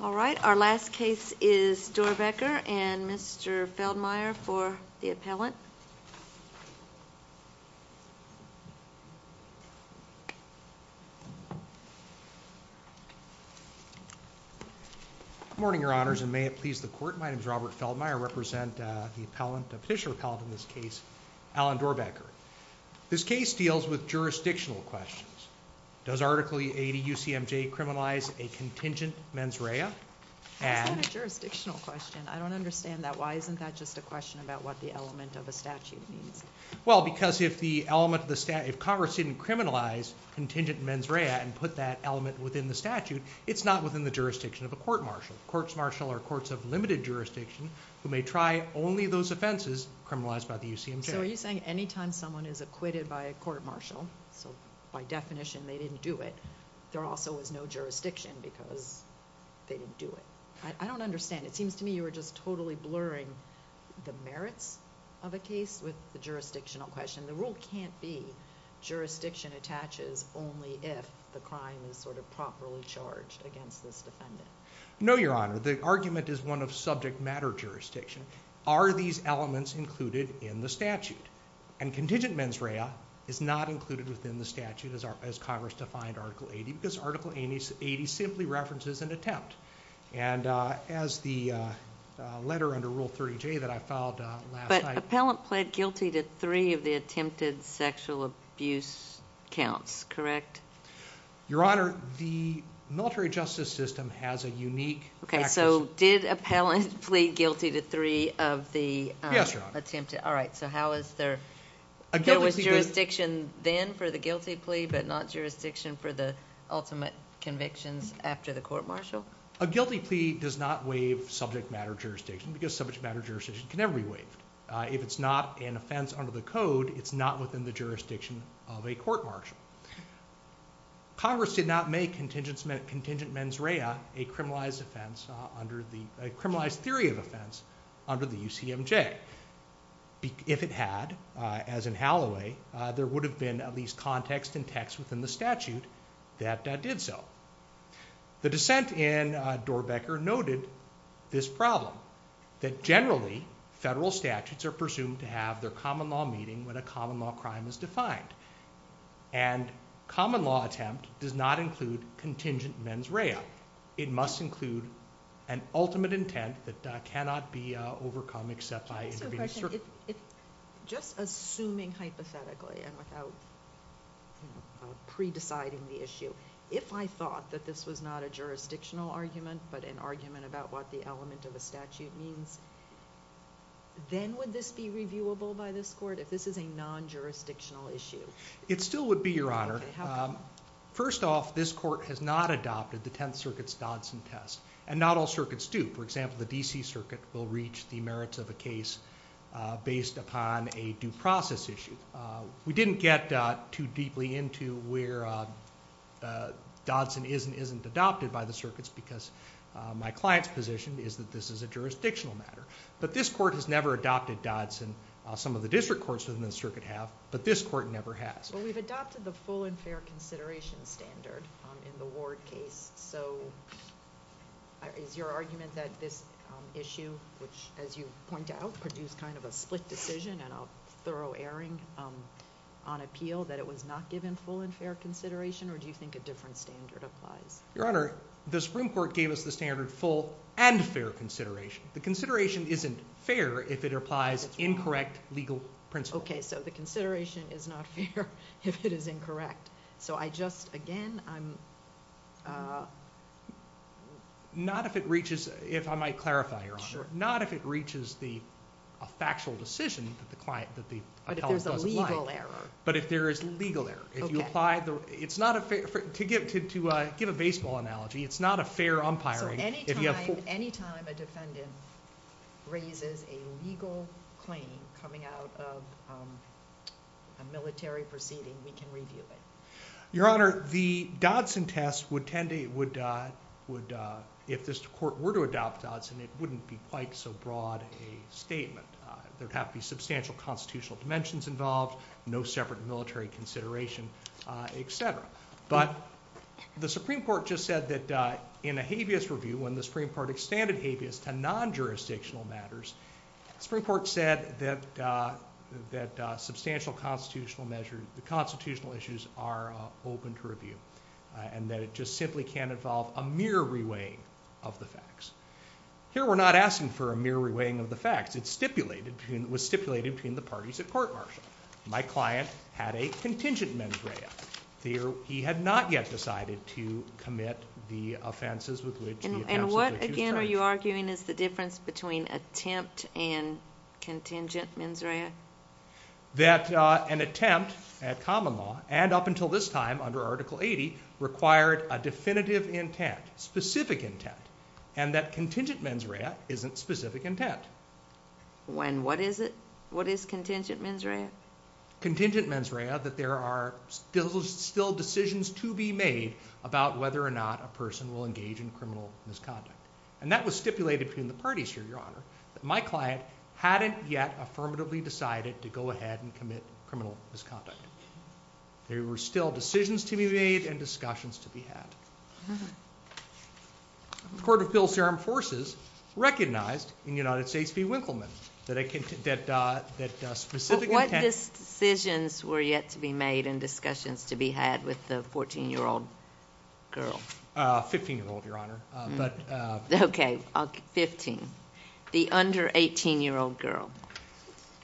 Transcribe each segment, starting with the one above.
All right, our last case is Dorrbecker and Mr. Feldmeyer for the appellant. Good morning, Your Honors, and may it please the Court, my name is Robert Feldmeyer. I represent the petitioner appellant in this case, Alan Dorrbecker. This case deals with jurisdictional questions. Does Article 80 UCMJ criminalize a contingent mens rea? That's not a jurisdictional question. I don't understand that. Why isn't that just a question about what the element of a statute means? Well, because if Congress didn't criminalize contingent mens rea and put that element within the statute, it's not within the jurisdiction of a court-martial. Courts-martial are courts of limited jurisdiction who may try only those offenses criminalized by the UCMJ. So are you saying anytime someone is acquitted by a court-martial, so by definition they didn't do it, there also is no jurisdiction because they didn't do it? I don't understand. It seems to me you were just totally blurring the merits of a case with the jurisdictional question. The rule can't be jurisdiction attaches only if the crime is sort of properly charged against this defendant. No, Your Honor. The argument is one of subject matter jurisdiction. Are these elements included in the statute? And contingent mens rea is not included within the statute as Congress defined Article 80 because Article 80 simply references an attempt. And as the letter under Rule 30J that I filed last night... But appellant pled guilty to three of the attempted sexual abuse counts, correct? Your Honor, the military justice system has a unique... Okay, so did appellant plead guilty to three of the attempted... Yes, Your Honor. All right, so how is there... There was jurisdiction then for the guilty plea but not jurisdiction for the ultimate convictions after the court-martial? A guilty plea does not waive subject matter jurisdiction because subject matter jurisdiction can never be waived. If it's not an offense under the code, it's not within the jurisdiction of a court-martial. Congress did not make contingent mens rea a criminalized theory of offense under the UCMJ. If it had, as in Halloway, there would have been at least context and text within the statute that did so. The dissent in Doerbeker noted this problem that generally federal statutes are presumed to have their common law meeting when a common law crime is defined. And common law attempt does not include contingent mens rea. It must include an ultimate intent that cannot be overcome except by intervening... Just assuming hypothetically and without pre-deciding the issue, if I thought that this was not a jurisdictional argument but an argument about what the element of a statute means, then would this be reviewable by this court if this is a non-jurisdictional issue? It still would be, Your Honor. Okay. How come? First off, this court has not adopted the Tenth Circuit's Dodson test. And not all circuits do. For example, the D.C. Circuit will reach the merits of a case based upon a due process issue. We didn't get too deeply into where Dodson is and isn't adopted by the circuits because my client's position is that this is a jurisdictional matter. But this court has never adopted Dodson. Some of the district courts within the circuit have, but this court never has. Well, we've adopted the full and fair consideration standard in the Ward case. So is your argument that this issue, which, as you point out, produced kind of a split decision and a thorough airing on appeal, that it was not given full and fair consideration? Or do you think a different standard applies? Your Honor, the Supreme Court gave us the standard full and fair consideration. The consideration isn't fair if it applies incorrect legal principles. Okay. So the consideration is not fair if it is incorrect. So I just, again, I'm... Not if it reaches, if I might clarify, Your Honor. Sure. Not if it reaches a factual decision that the client, that the appellant doesn't like. But if there's a legal error. But if there is legal error. Okay. If you apply the, it's not a fair, to give a baseball analogy, it's not a fair umpiring if you have full... Your Honor, the Dodson test would tend to, would, if this court were to adopt Dodson, it wouldn't be quite so broad a statement. There would have to be substantial constitutional dimensions involved, no separate military consideration, et cetera. But the Supreme Court just said that in a habeas review, when the Supreme Court extended habeas to non-jurisdictional matters, the Supreme Court said that substantial constitutional measures, the constitutional issues are open to review. And that it just simply can't involve a mere reweighing of the facts. Here we're not asking for a mere reweighing of the facts. It's stipulated, was stipulated between the parties at court martial. My client had a contingent mens rea. He had not yet decided to commit the offenses with which... Contingent and contingent mens rea? That an attempt at common law, and up until this time under Article 80, required a definitive intent, specific intent, and that contingent mens rea isn't specific intent. When what is it? What is contingent mens rea? Contingent mens rea, that there are still decisions to be made about whether or not a person will engage in criminal misconduct. And that was stipulated between the parties here, Your Honor, that my client hadn't yet affirmatively decided to go ahead and commit criminal misconduct. There were still decisions to be made and discussions to be had. The Court of Appeals to Armed Forces recognized in United States v. Winkleman that specific intent... But what decisions were yet to be made and discussions to be had with the 14-year-old girl? 15-year-old, Your Honor. Okay, 15. The under 18-year-old girl.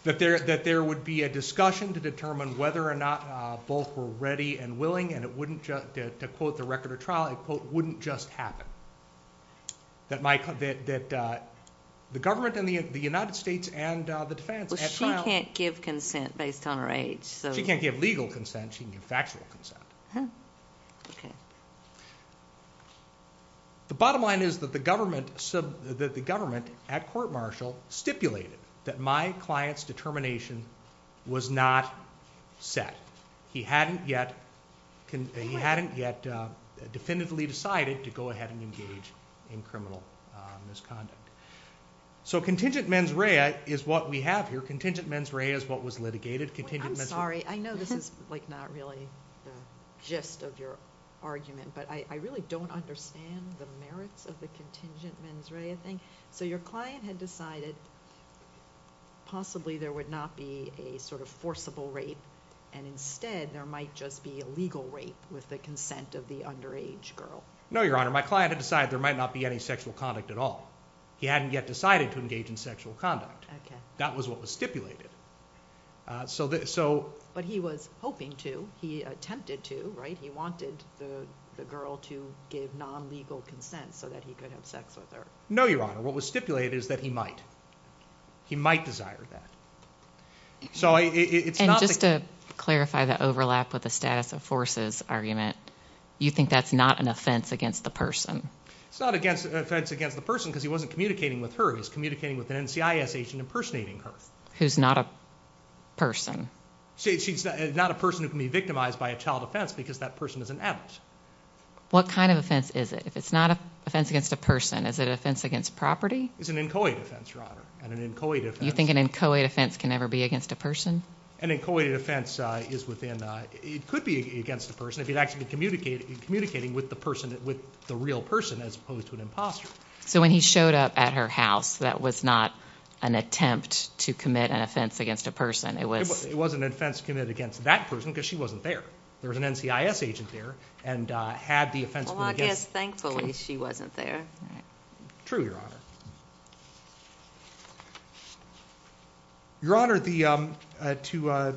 That there would be a discussion to determine whether or not both were ready and willing, and to quote the record of trial, it wouldn't just happen. That the government in the United States and the defense at trial... Well, she can't give consent based on her age, so... She can't give legal consent. She can give factual consent. Okay. The bottom line is that the government at court-martial stipulated that my client's determination was not set. He hadn't yet definitively decided to go ahead and engage in criminal misconduct. So contingent mens rea is what we have here. Contingent mens rea is what was litigated. I'm sorry. I know this is not really the gist of your argument, but I really don't understand the merits of the contingent mens rea thing. So your client had decided possibly there would not be a sort of forcible rape, and instead there might just be a legal rape with the consent of the underage girl. No, Your Honor. My client had decided there might not be any sexual conduct at all. He hadn't yet decided to engage in sexual conduct. Okay. And that was what was stipulated. But he was hoping to. He attempted to, right? He wanted the girl to give non-legal consent so that he could have sex with her. No, Your Honor. What was stipulated is that he might. He might desire that. And just to clarify the overlap with the status of forces argument, you think that's not an offense against the person? It's not an offense against the person because he wasn't communicating with her. He was communicating with an NCIS agent impersonating her. Who's not a person. She's not a person who can be victimized by a child offense because that person is an adult. What kind of offense is it? If it's not an offense against a person, is it an offense against property? It's an inchoate offense, Your Honor, and an inchoate offense. You think an inchoate offense can ever be against a person? An inchoate offense is within a ñ it could be against a person if you'd actually be communicating with the person, with the real person as opposed to an imposter. So when he showed up at her house, that was not an attempt to commit an offense against a person. It wasn't an offense committed against that person because she wasn't there. There was an NCIS agent there and had the offense. Well, I guess thankfully she wasn't there. True, Your Honor. Your Honor, to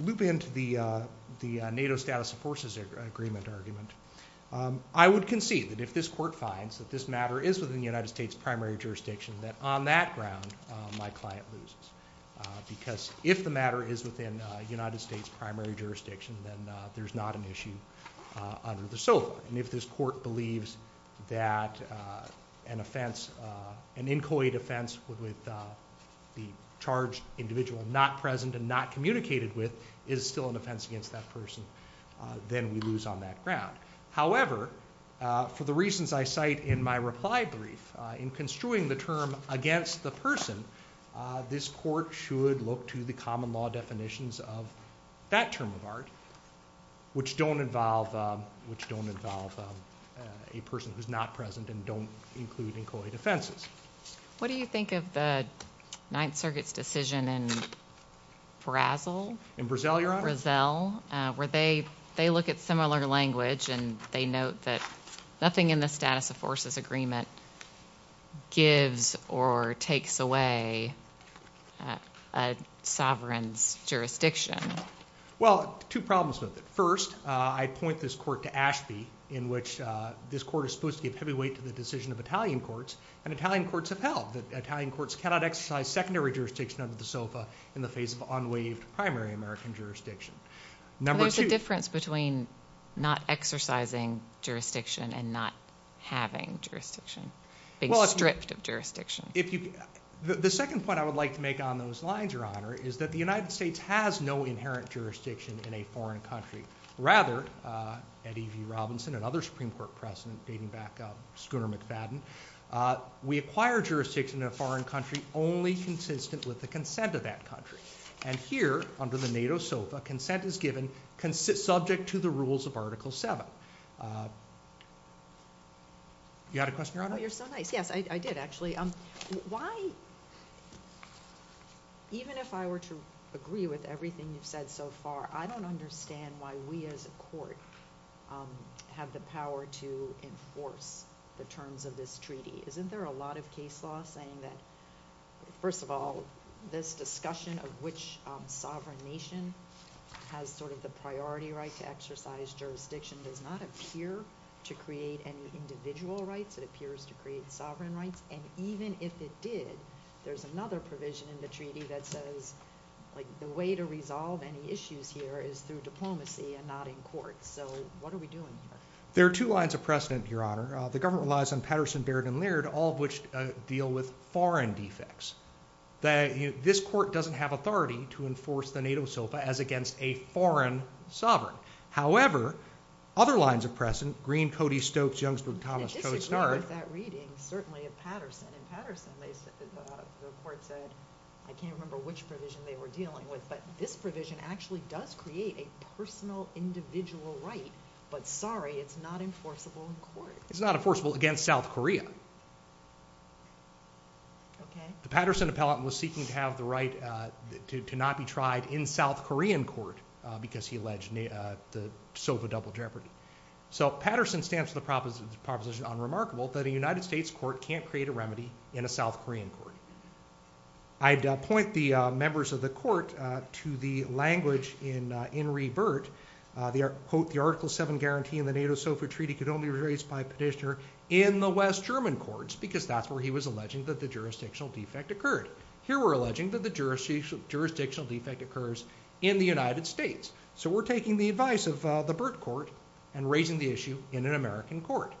loop into the NATO status of forces agreement argument, I would concede that if this court finds that this matter is within the United States primary jurisdiction, that on that ground my client loses because if the matter is within the United States primary jurisdiction, then there's not an issue under the SOFA. And if this court believes that an offense, an inchoate offense, with the charged individual not present and not communicated with is still an offense against that person, then we lose on that ground. However, for the reasons I cite in my reply brief, in construing the term against the person, this court should look to the common law definitions of that term of art, which don't involve a person who's not present and don't include inchoate offenses. What do you think of the Ninth Circuit's decision in Brazil? In Brazil, Your Honor. Brazil, where they look at similar language and they note that nothing in the status of forces agreement gives or takes away a sovereign's jurisdiction. Well, two problems with it. First, I point this court to Ashby, in which this court is supposed to give heavy weight to the decision of Italian courts, and Italian courts have held that Italian courts cannot exercise secondary jurisdiction under the SOFA in the face of unwaived primary American jurisdiction. There's a difference between not exercising jurisdiction and not having jurisdiction, being stripped of jurisdiction. The second point I would like to make on those lines, Your Honor, is that the United States has no inherent jurisdiction in a foreign country. Rather, Eddie V. Robinson, another Supreme Court president dating back to Schooner McFadden, we acquire jurisdiction in a foreign country only consistent with the consent of that country. And here, under the NATO SOFA, consent is given subject to the rules of Article 7. You had a question, Your Honor? Oh, you're so nice. Yes, I did, actually. Why, even if I were to agree with everything you've said so far, I don't understand why we as a court have the power to enforce the terms of this treaty. Isn't there a lot of case law saying that, first of all, this discussion of which sovereign nation has sort of the priority right to exercise jurisdiction does not appear to create any individual rights? It appears to create sovereign rights. And even if it did, there's another provision in the treaty that says, like, the way to resolve any issues here is through diplomacy and not in court. So what are we doing here? There are two lines of precedent, Your Honor. The government relies on Patterson, Baird, and Laird, all of which deal with foreign defects. This court doesn't have authority to enforce the NATO SOFA as against a foreign sovereign. However, other lines of precedent, Green, Cody, Stokes, Youngsburg, Thomas, Chodosnard I disagree with that reading, certainly of Patterson. In Patterson, the court said, I can't remember which provision they were dealing with, but this provision actually does create a personal individual right, but sorry, it's not enforceable in court. It's not enforceable against South Korea. The Patterson appellate was seeking to have the right to not be tried in South Korean court because he alleged the SOFA double jeopardy. So Patterson stands to the proposition, unremarkable, that a United States court can't create a remedy in a South Korean court. I'd point the members of the court to the language in In Re Burt, quote, the Article 7 guarantee in the NATO SOFA treaty could only be raised by petitioner in the West German courts because that's where he was alleging that the jurisdictional defect occurred. Here we're alleging that the jurisdictional defect occurs in the United States. So we're taking the advice of the Burt court and raising the issue in an American court.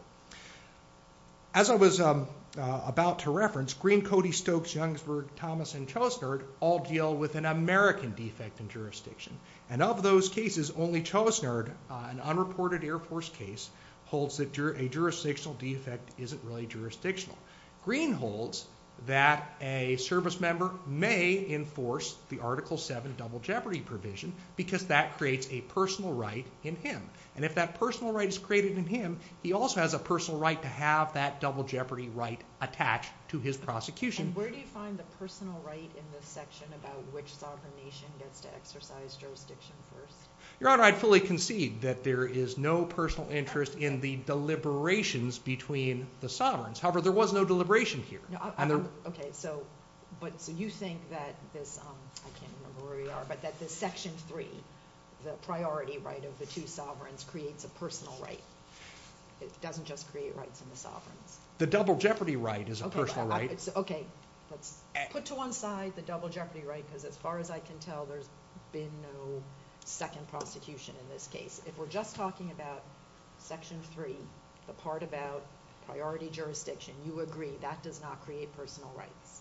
As I was about to reference, Green, Cody, Stokes, Youngsburg, Thomas, and Chodosnard all deal with an American defect in jurisdiction. And of those cases, only Chodosnard, an unreported Air Force case, holds that a jurisdictional defect isn't really jurisdictional. Green holds that a service member may enforce the Article 7 double jeopardy provision because that creates a personal right in him. And if that personal right is created in him, he also has a personal right to have that double jeopardy right attached to his prosecution. Where do you find the personal right in this section about which sovereign nation gets to exercise jurisdiction first? Your Honor, I'd fully concede that there is no personal interest in the deliberations between the sovereigns. However, there was no deliberation here. Okay, so you think that this section 3, the priority right of the two sovereigns, creates a personal right. It doesn't just create rights in the sovereigns. The double jeopardy right is a personal right. Okay, let's put to one side the double jeopardy right because as far as I can tell, there's been no second prosecution in this case. If we're just talking about section 3, the part about priority jurisdiction, you agree that does not create personal rights.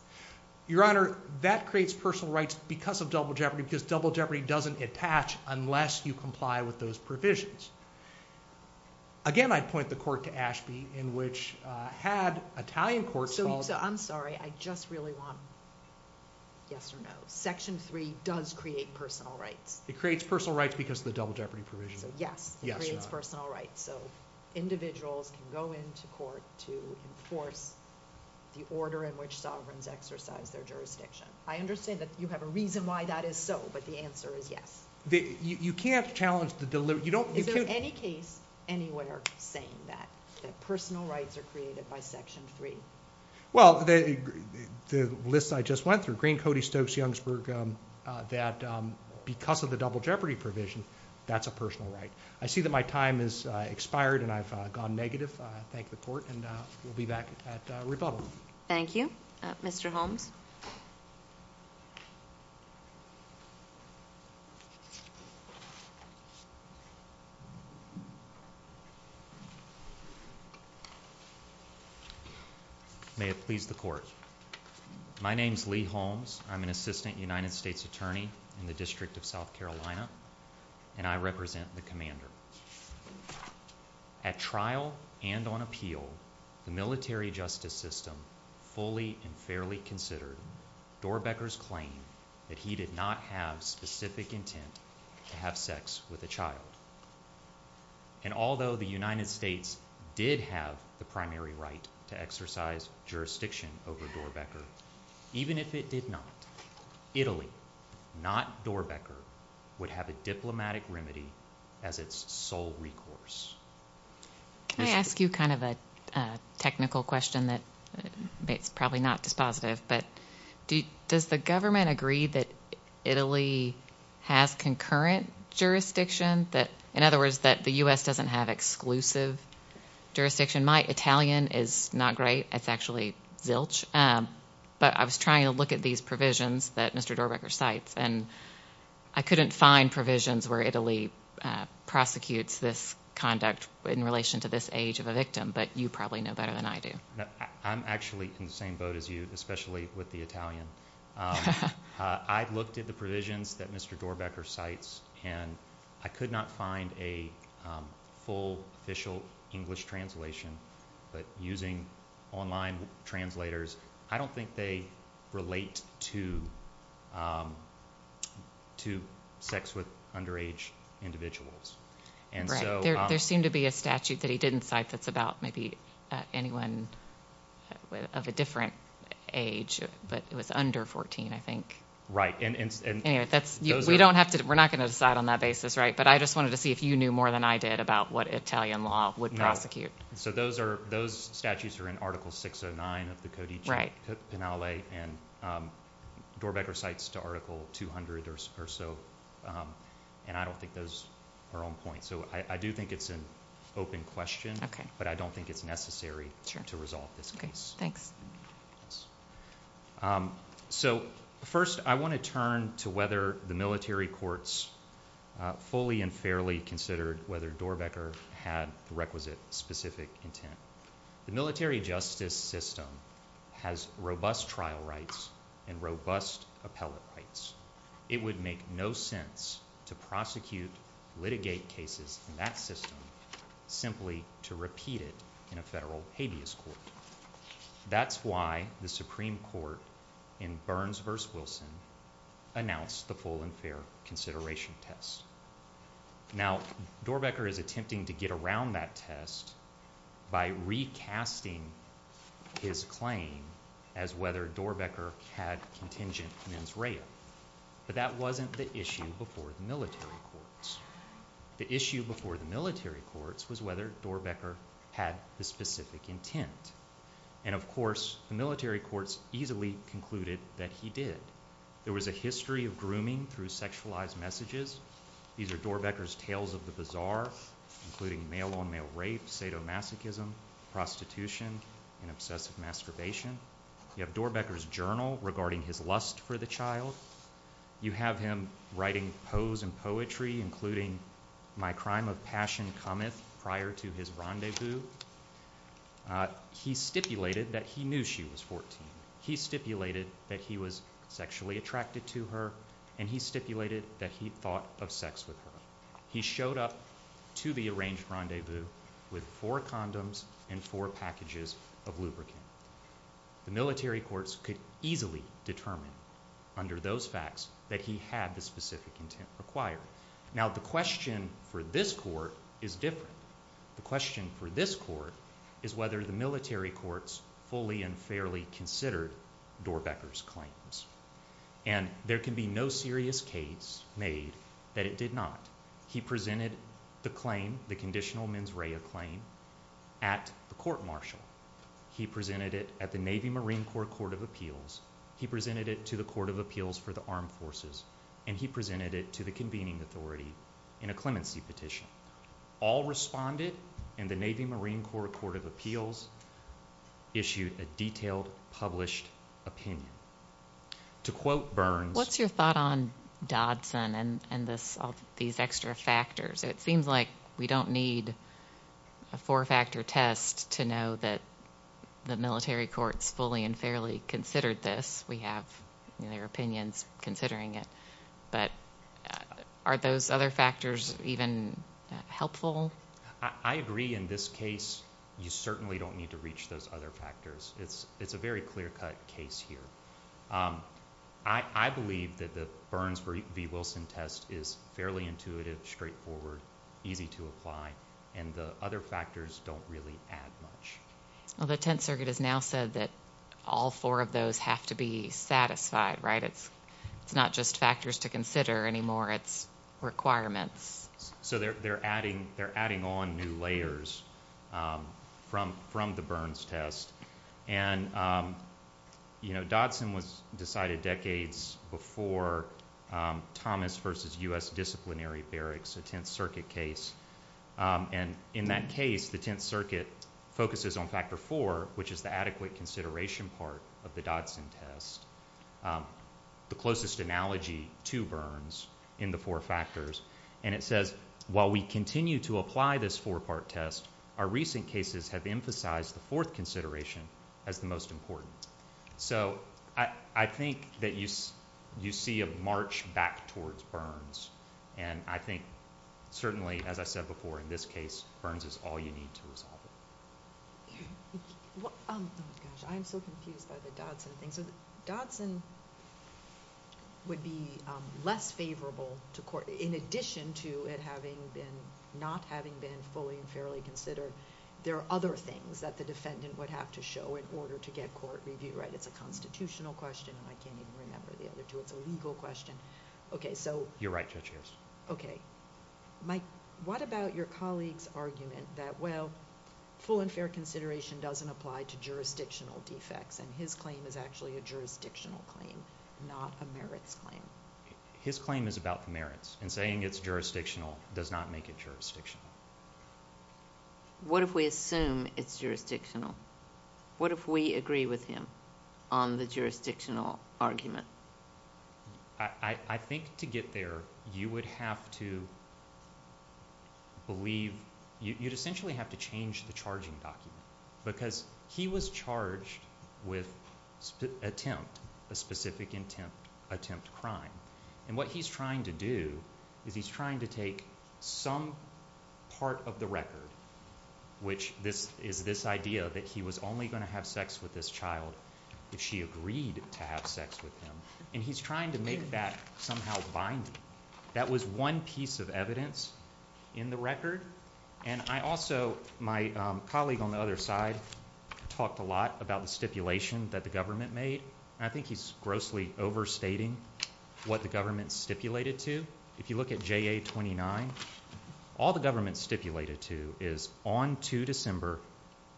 Your Honor, that creates personal rights because of double jeopardy because double jeopardy doesn't attach unless you comply with those provisions. Again, I'd point the court to Ashby in which had Italian courts called. So I'm sorry, I just really want yes or no. Section 3 does create personal rights. It creates personal rights because of the double jeopardy provision. So yes, it creates personal rights. So individuals can go into court to enforce the order in which sovereigns exercise their jurisdiction. I understand that you have a reason why that is so, but the answer is yes. You can't challenge the delivery. Is there any case anywhere saying that personal rights are created by section 3? Well, the list I just went through, Green, Cody, Stokes, Youngsburg, that because of the double jeopardy provision, that's a personal right. I see that my time has expired and I've gone negative. I thank the court, and we'll be back at rebuttal. Thank you. Mr. Holmes? May it please the court. My name is Lee Holmes. I'm an assistant United States attorney in the District of South Carolina, and I represent the commander. At trial and on appeal, the military justice system fully and fairly considered Doerbeker's claim that he did not have specific intent to have sex with a child. And although the United States did have the primary right to exercise jurisdiction over Doerbeker, even if it did not, Italy, not Doerbeker, would have a diplomatic remedy as its sole recourse. Can I ask you kind of a technical question that's probably not dispositive, but does the government agree that Italy has concurrent jurisdiction, in other words, that the U.S. doesn't have exclusive jurisdiction? Jurisdiction might. Italian is not great. It's actually zilch. But I was trying to look at these provisions that Mr. Doerbeker cites, and I couldn't find provisions where Italy prosecutes this conduct in relation to this age of a victim, but you probably know better than I do. I'm actually in the same boat as you, especially with the Italian. I looked at the provisions that Mr. Doerbeker cites, and I could not find a full official English translation, but using online translators, I don't think they relate to sex with underage individuals. Right. There seemed to be a statute that he didn't cite that's about maybe anyone of a different age, but it was under 14, I think. Right. Anyway, we're not going to decide on that basis, right? But I just wanted to see if you knew more than I did about what Italian law would prosecute. So those statutes are in Article 609 of the Codice Penale, and Doerbeker cites to Article 200 or so, and I don't think those are on point. So I do think it's an open question, but I don't think it's necessary to resolve this case. Thanks. So first I want to turn to whether the military courts fully and fairly considered whether Doerbeker had the requisite specific intent. The military justice system has robust trial rights and robust appellate rights. It would make no sense to prosecute, litigate cases in that system, simply to repeat it in a federal habeas court. That's why the Supreme Court in Burns v. Wilson announced the full and fair consideration test. Now, Doerbeker is attempting to get around that test by recasting his claim as whether Doerbeker had contingent mens rea. But that wasn't the issue before the military courts. The issue before the military courts was whether Doerbeker had the specific intent. And, of course, the military courts easily concluded that he did. There was a history of grooming through sexualized messages. These are Doerbeker's tales of the bazaar, including male-on-male rape, sadomasochism, prostitution, and obsessive masturbation. You have Doerbeker's journal regarding his lust for the child. You have him writing poes and poetry, including My Crime of Passion Cometh prior to his rendezvous. He stipulated that he knew she was 14. He stipulated that he was sexually attracted to her. And he stipulated that he thought of sex with her. He showed up to the arranged rendezvous with four condoms and four packages of lubricant. The military courts could easily determine under those facts that he had the specific intent required. Now, the question for this court is different. The question for this court is whether the military courts fully and fairly considered Doerbeker's claims. And there can be no serious case made that it did not. He presented the claim, the conditional mens rea claim, at the court-martial. He presented it at the Navy-Marine Corps Court of Appeals. He presented it to the Court of Appeals for the Armed Forces. And he presented it to the convening authority in a clemency petition. All responded, and the Navy-Marine Corps Court of Appeals issued a detailed published opinion. To quote Burns, What's your thought on Dodson and these extra factors? It seems like we don't need a four-factor test to know that the military courts fully and fairly considered this. We have their opinions considering it. But are those other factors even helpful? I agree. In this case, you certainly don't need to reach those other factors. It's a very clear-cut case here. I believe that the Burns v. Wilson test is fairly intuitive, straightforward, easy to apply, and the other factors don't really add much. Well, the Tenth Circuit has now said that all four of those have to be satisfied, right? It's not just factors to consider anymore. It's requirements. So they're adding on new layers from the Burns test. And, you know, Dodson was decided decades before Thomas v. U.S. Disciplinary Barracks, a Tenth Circuit case. And in that case, the Tenth Circuit focuses on Factor 4, which is the adequate consideration part of the Dodson test, the closest analogy to Burns in the four factors. And it says, while we continue to apply this four-part test, our recent cases have emphasized the fourth consideration as the most important. So I think that you see a march back towards Burns, and I think certainly, as I said before, in this case, Burns is all you need to resolve it. Oh, my gosh. I am so confused by the Dodson thing. So Dodson would be less favorable to court. In addition to it not having been fully and fairly considered, there are other things that the defendant would have to show in order to get court review, right? It's a constitutional question, and I can't even remember the other two. It's a legal question. You're right, Judge Hayes. Okay. Mike, what about your colleague's argument that, well, full and fair consideration doesn't apply to jurisdictional defects, and his claim is actually a jurisdictional claim, not a merits claim? His claim is about the merits, and saying it's jurisdictional does not make it jurisdictional. What if we assume it's jurisdictional? What if we agree with him on the jurisdictional argument? I think to get there, you would have to believe you'd essentially have to change the charging document because he was charged with attempt, a specific attempt crime, and what he's trying to do is he's trying to take some part of the record, which is this idea that he was only going to have sex with this child if she agreed to have sex with him, and he's trying to make that somehow binding. And I also, my colleague on the other side talked a lot about the stipulation that the government made, and I think he's grossly overstating what the government stipulated to. If you look at JA-29, all the government stipulated to is on 2 December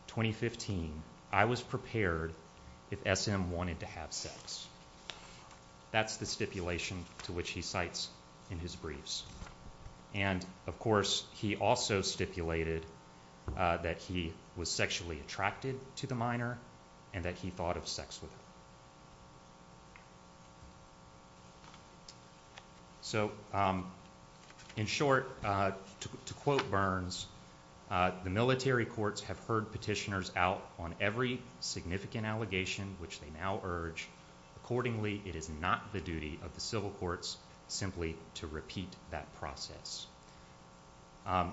2015, I was prepared if SM wanted to have sex. That's the stipulation to which he cites in his briefs. And, of course, he also stipulated that he was sexually attracted to the minor and that he thought of sex with her. So, in short, to quote Burns, the military courts have heard petitioners out on every significant allegation which they now urge. Accordingly, it is not the duty of the civil courts simply to repeat that process.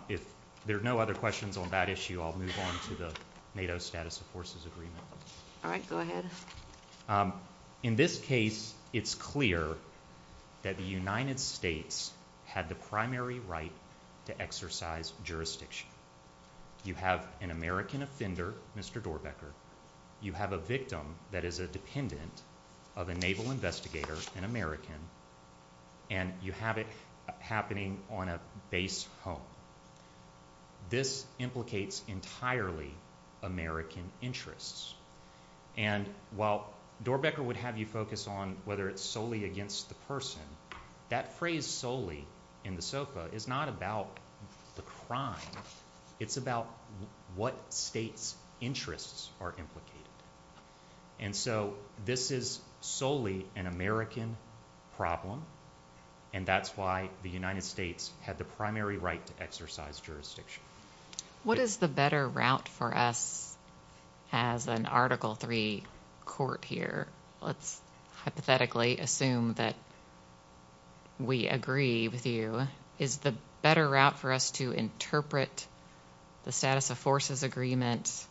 If there are no other questions on that issue, I'll move on to the NATO Status of Forces Agreement. All right, go ahead. In this case, it's clear that the United States had the primary right to exercise jurisdiction. You have an American offender, Mr. Doerbeker. You have a victim that is a dependent of a naval investigator, an American, and you have it happening on a base home. This implicates entirely American interests. And while Doerbeker would have you focus on whether it's solely against the person, that phrase solely in the SOFA is not about the crime. It's about what states' interests are implicated. And so this is solely an American problem, and that's why the United States had the primary right to exercise jurisdiction. What is the better route for us as an Article III court here? Let's hypothetically assume that we agree with you. Is the better route for us to interpret the Status of Forces Agreement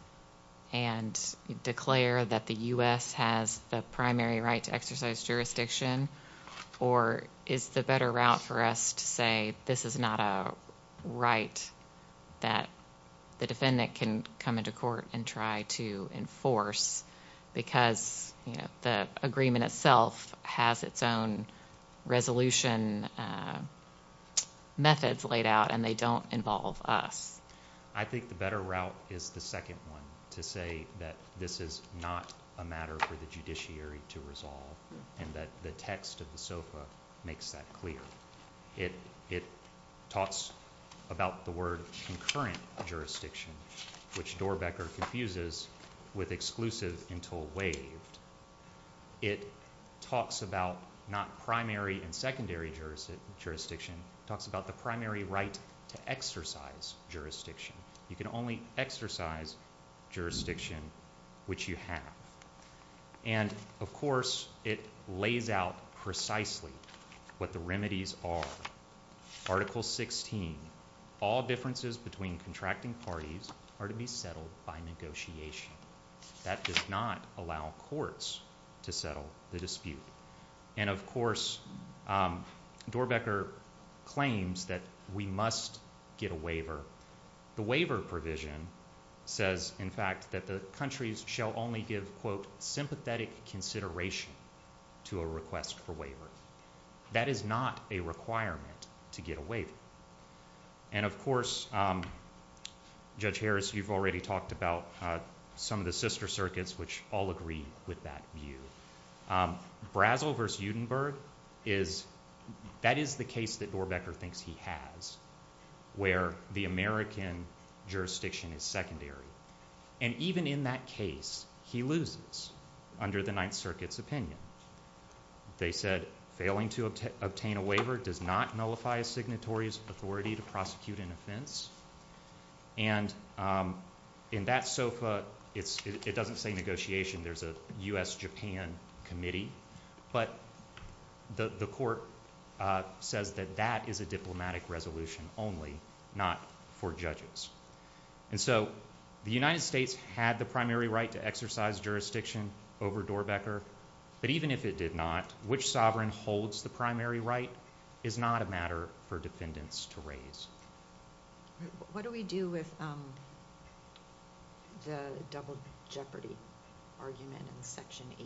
and declare that the U.S. has the primary right to exercise jurisdiction? Or is the better route for us to say, this is not a right that the defendant can come into court and try to enforce because the agreement itself has its own resolution methods laid out and they don't involve us? I think the better route is the second one, to say that this is not a matter for the judiciary to resolve and that the text of the SOFA makes that clear. It talks about the word concurrent jurisdiction, which Doerbeker confuses with exclusive until waived. It talks about not primary and secondary jurisdiction. It talks about the primary right to exercise jurisdiction. You can only exercise jurisdiction which you have. And, of course, it lays out precisely what the remedies are. Article 16. All differences between contracting parties are to be settled by negotiation. That does not allow courts to settle the dispute. And, of course, Doerbeker claims that we must get a waiver. The waiver provision says, in fact, that the countries shall only give, quote, sympathetic consideration to a request for waiver. That is not a requirement to get a waiver. And, of course, Judge Harris, you've already talked about some of the sister circuits which all agree with that view. Brazel v. Udenberg, that is the case that Doerbeker thinks he has where the American jurisdiction is secondary. And even in that case, he loses under the Ninth Circuit's opinion. They said failing to obtain a waiver does not nullify a signatory's authority to prosecute an offense. And in that SOFA, it doesn't say negotiation. There's a U.S.-Japan committee. But the court says that that is a diplomatic resolution only, not for judges. And so the United States had the primary right to exercise jurisdiction over Doerbeker. But even if it did not, which sovereign holds the primary right is not a matter for defendants to raise. What do we do with the double jeopardy argument in Section 8?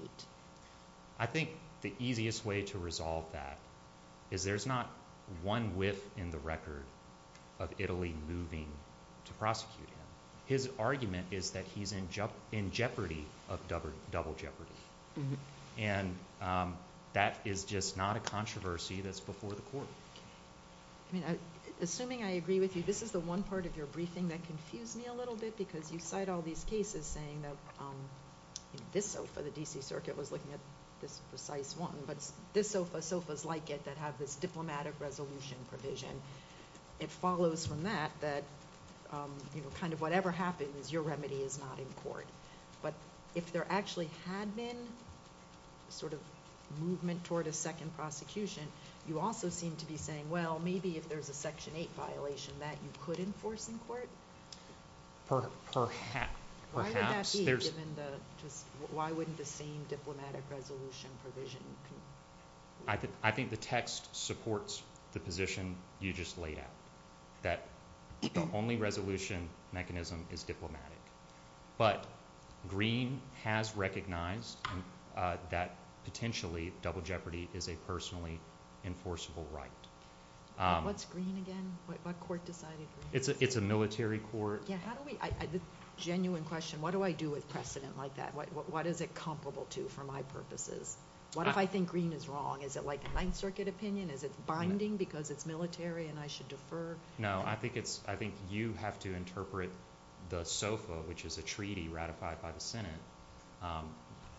I think the easiest way to resolve that is there's not one whiff in the record of Italy moving to prosecute him. His argument is that he's in jeopardy of double jeopardy. And that is just not a controversy that's before the court. Assuming I agree with you, this is the one part of your briefing that confused me a little bit because you cite all these cases saying that this SOFA, the D.C. Circuit was looking at this precise one, but this SOFA, SOFAs like it that have this diplomatic resolution provision. It follows from that that kind of whatever happens, your remedy is not in court. But if there actually had been sort of movement toward a second prosecution, you also seem to be saying, well, maybe if there's a Section 8 violation, that you could enforce in court? Perhaps. Why wouldn't that be given the same diplomatic resolution provision? I think the text supports the position you just laid out, that the only resolution mechanism is diplomatic. But Green has recognized that potentially double jeopardy is a personally enforceable right. What's Green again? What court decided Green? It's a military court. The genuine question, what do I do with precedent like that? What is it comparable to for my purposes? What if I think Green is wrong? Is it like a Ninth Circuit opinion? Is it binding because it's military and I should defer? No, I think you have to interpret the SOFA, which is a treaty ratified by the Senate,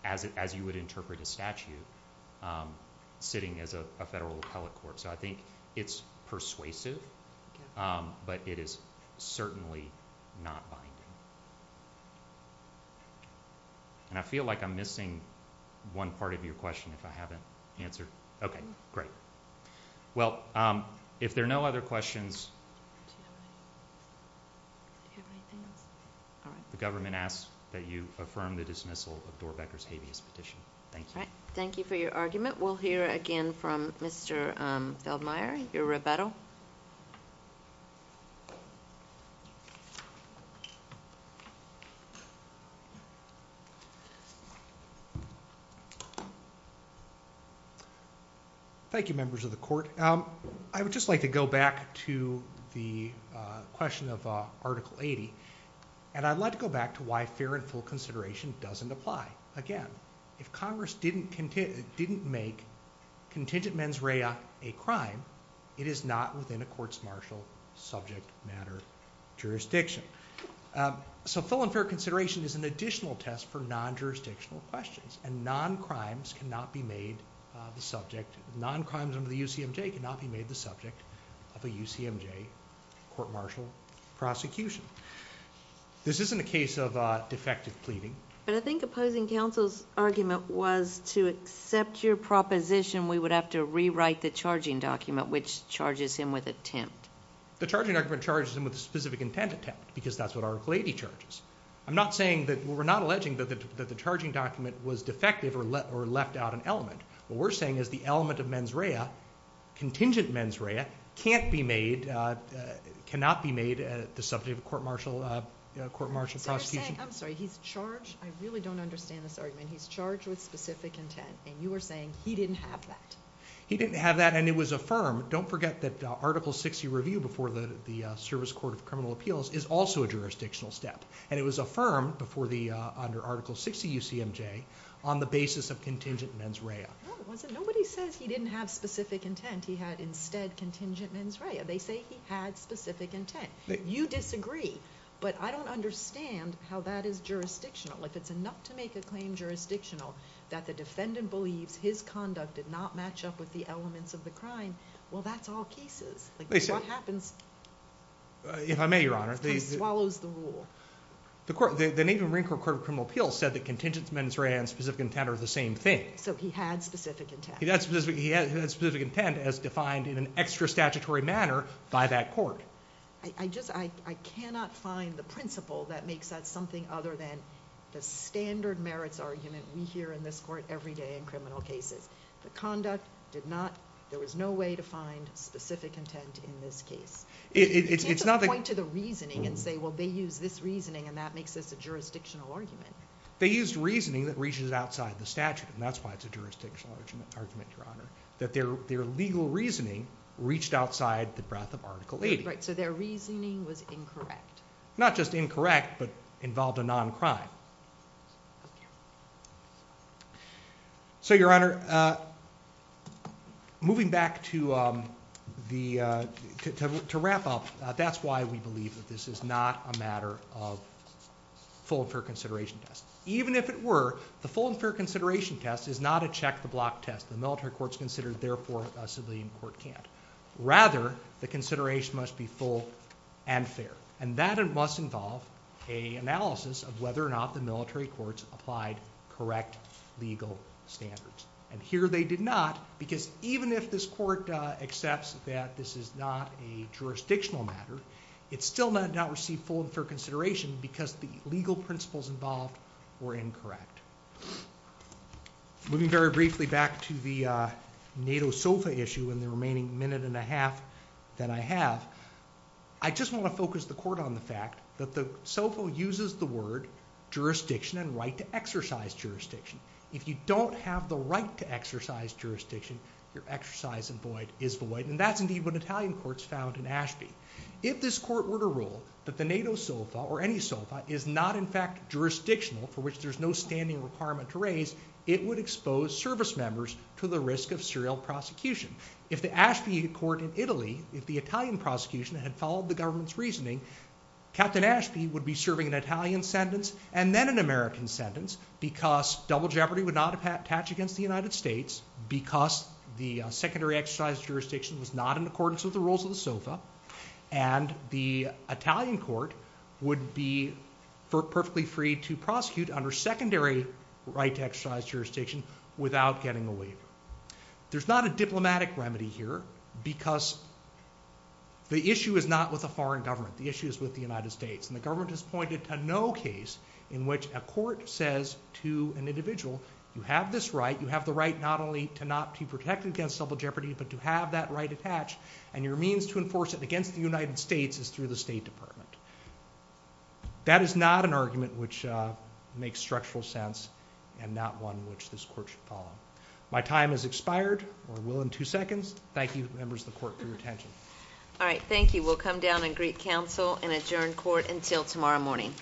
as you would interpret a statute sitting as a federal appellate court. So I think it's persuasive, but it is certainly not binding. And I feel like I'm missing one part of your question, if I haven't answered. Okay, great. Well, if there are no other questions, the government asks that you affirm the dismissal of Doerbeker's habeas petition. Thank you. Thank you for your argument. We'll hear again from Mr. Feldmeier, your rebuttal. Thank you, members of the court. I would just like to go back to the question of Article 80, and I'd like to go back to why fair and full consideration doesn't apply. Again, if Congress didn't make contingent mens rea a crime, it is not within a court's martial subject matter jurisdiction. So full and fair consideration is an additional test for non-jurisdictional questions, and non-crimes under the UCMJ cannot be made the subject of a UCMJ court martial prosecution. This isn't a case of defective pleading. But I think opposing counsel's argument was to accept your proposition we would have to rewrite the charging document, which charges him with attempt. The charging document charges him with a specific intent attempt because that's what Article 80 charges. I'm not saying that we're not alleging that the charging document was defective or left out an element. What we're saying is the element of mens rea, contingent mens rea, cannot be made the subject of a court martial prosecution. I'm sorry, he's charged. I really don't understand this argument. He's charged with specific intent, and you are saying he didn't have that. He didn't have that, and it was affirmed. Don't forget that Article 60 review before the Service Court of Criminal Appeals is also a jurisdictional step, and it was affirmed under Article 60 UCMJ on the basis of contingent mens rea. Nobody says he didn't have specific intent. He had instead contingent mens rea. They say he had specific intent. You disagree, but I don't understand how that is jurisdictional. If it's enough to make a claim jurisdictional that the defendant believes his conduct did not match up with the elements of the crime, well, that's all cases. What happens? If I may, Your Honor. The court swallows the rule. The Navy Marine Corps Court of Criminal Appeals said that contingent mens rea and specific intent are the same thing. So he had specific intent. He had specific intent as defined in an extra statutory manner by that court. I cannot find the principle that makes that something other than the standard merits argument we hear in this court every day in criminal cases. The conduct did not, there was no way to find specific intent in this case. You can't just point to the reasoning and say, well, they use this reasoning and that makes this a jurisdictional argument. They used reasoning that reaches outside the statute, and that's why it's a jurisdictional argument, Your Honor, that their legal reasoning reached outside the breadth of Article 80. Right. So their reasoning was incorrect. Not just incorrect, but involved a non-crime. So, Your Honor, moving back to wrap up, that's why we believe that this is not a matter of full and fair consideration test. Even if it were, the full and fair consideration test is not a check the block test. The military court's considered, therefore a civilian court can't. Rather, the consideration must be full and fair, and that must involve an analysis of whether or not the military court's applied correct legal standards. And here they did not, because even if this court accepts that this is not a jurisdictional matter, it still did not receive full and fair consideration because the legal principles involved were incorrect. Moving very briefly back to the NATO SOFA issue in the remaining minute and a half that I have, I just want to focus the court on the fact that the SOFA uses the word jurisdiction and right to exercise jurisdiction. If you don't have the right to exercise jurisdiction, your exercise is void, and that's indeed what Italian courts found in Ashby. If this court were to rule that the NATO SOFA or any SOFA is not in fact jurisdictional, for which there's no standing requirement to raise, it would expose service members to the risk of serial prosecution. If the Ashby court in Italy, if the Italian prosecution had followed the government's reasoning, Captain Ashby would be serving an Italian sentence and then an American sentence because double jeopardy would not attach against the United States, because the secondary exercise jurisdiction was not in accordance with the rules of the SOFA, and the Italian court would be perfectly free to prosecute under secondary right to exercise jurisdiction without getting a waiver. There's not a diplomatic remedy here, because the issue is not with a foreign government. The issue is with the United States, and the government has pointed to no case in which a court says to an individual, you have this right, you have the right not only to protect against double jeopardy, but to have that right attached, and your means to enforce it against the United States is through the State Department. That is not an argument which makes structural sense and not one which this court should follow. My time has expired. We'll end in two seconds. Thank you, members of the court, for your attention. All right, thank you. We'll come down and greet counsel and adjourn court until tomorrow morning.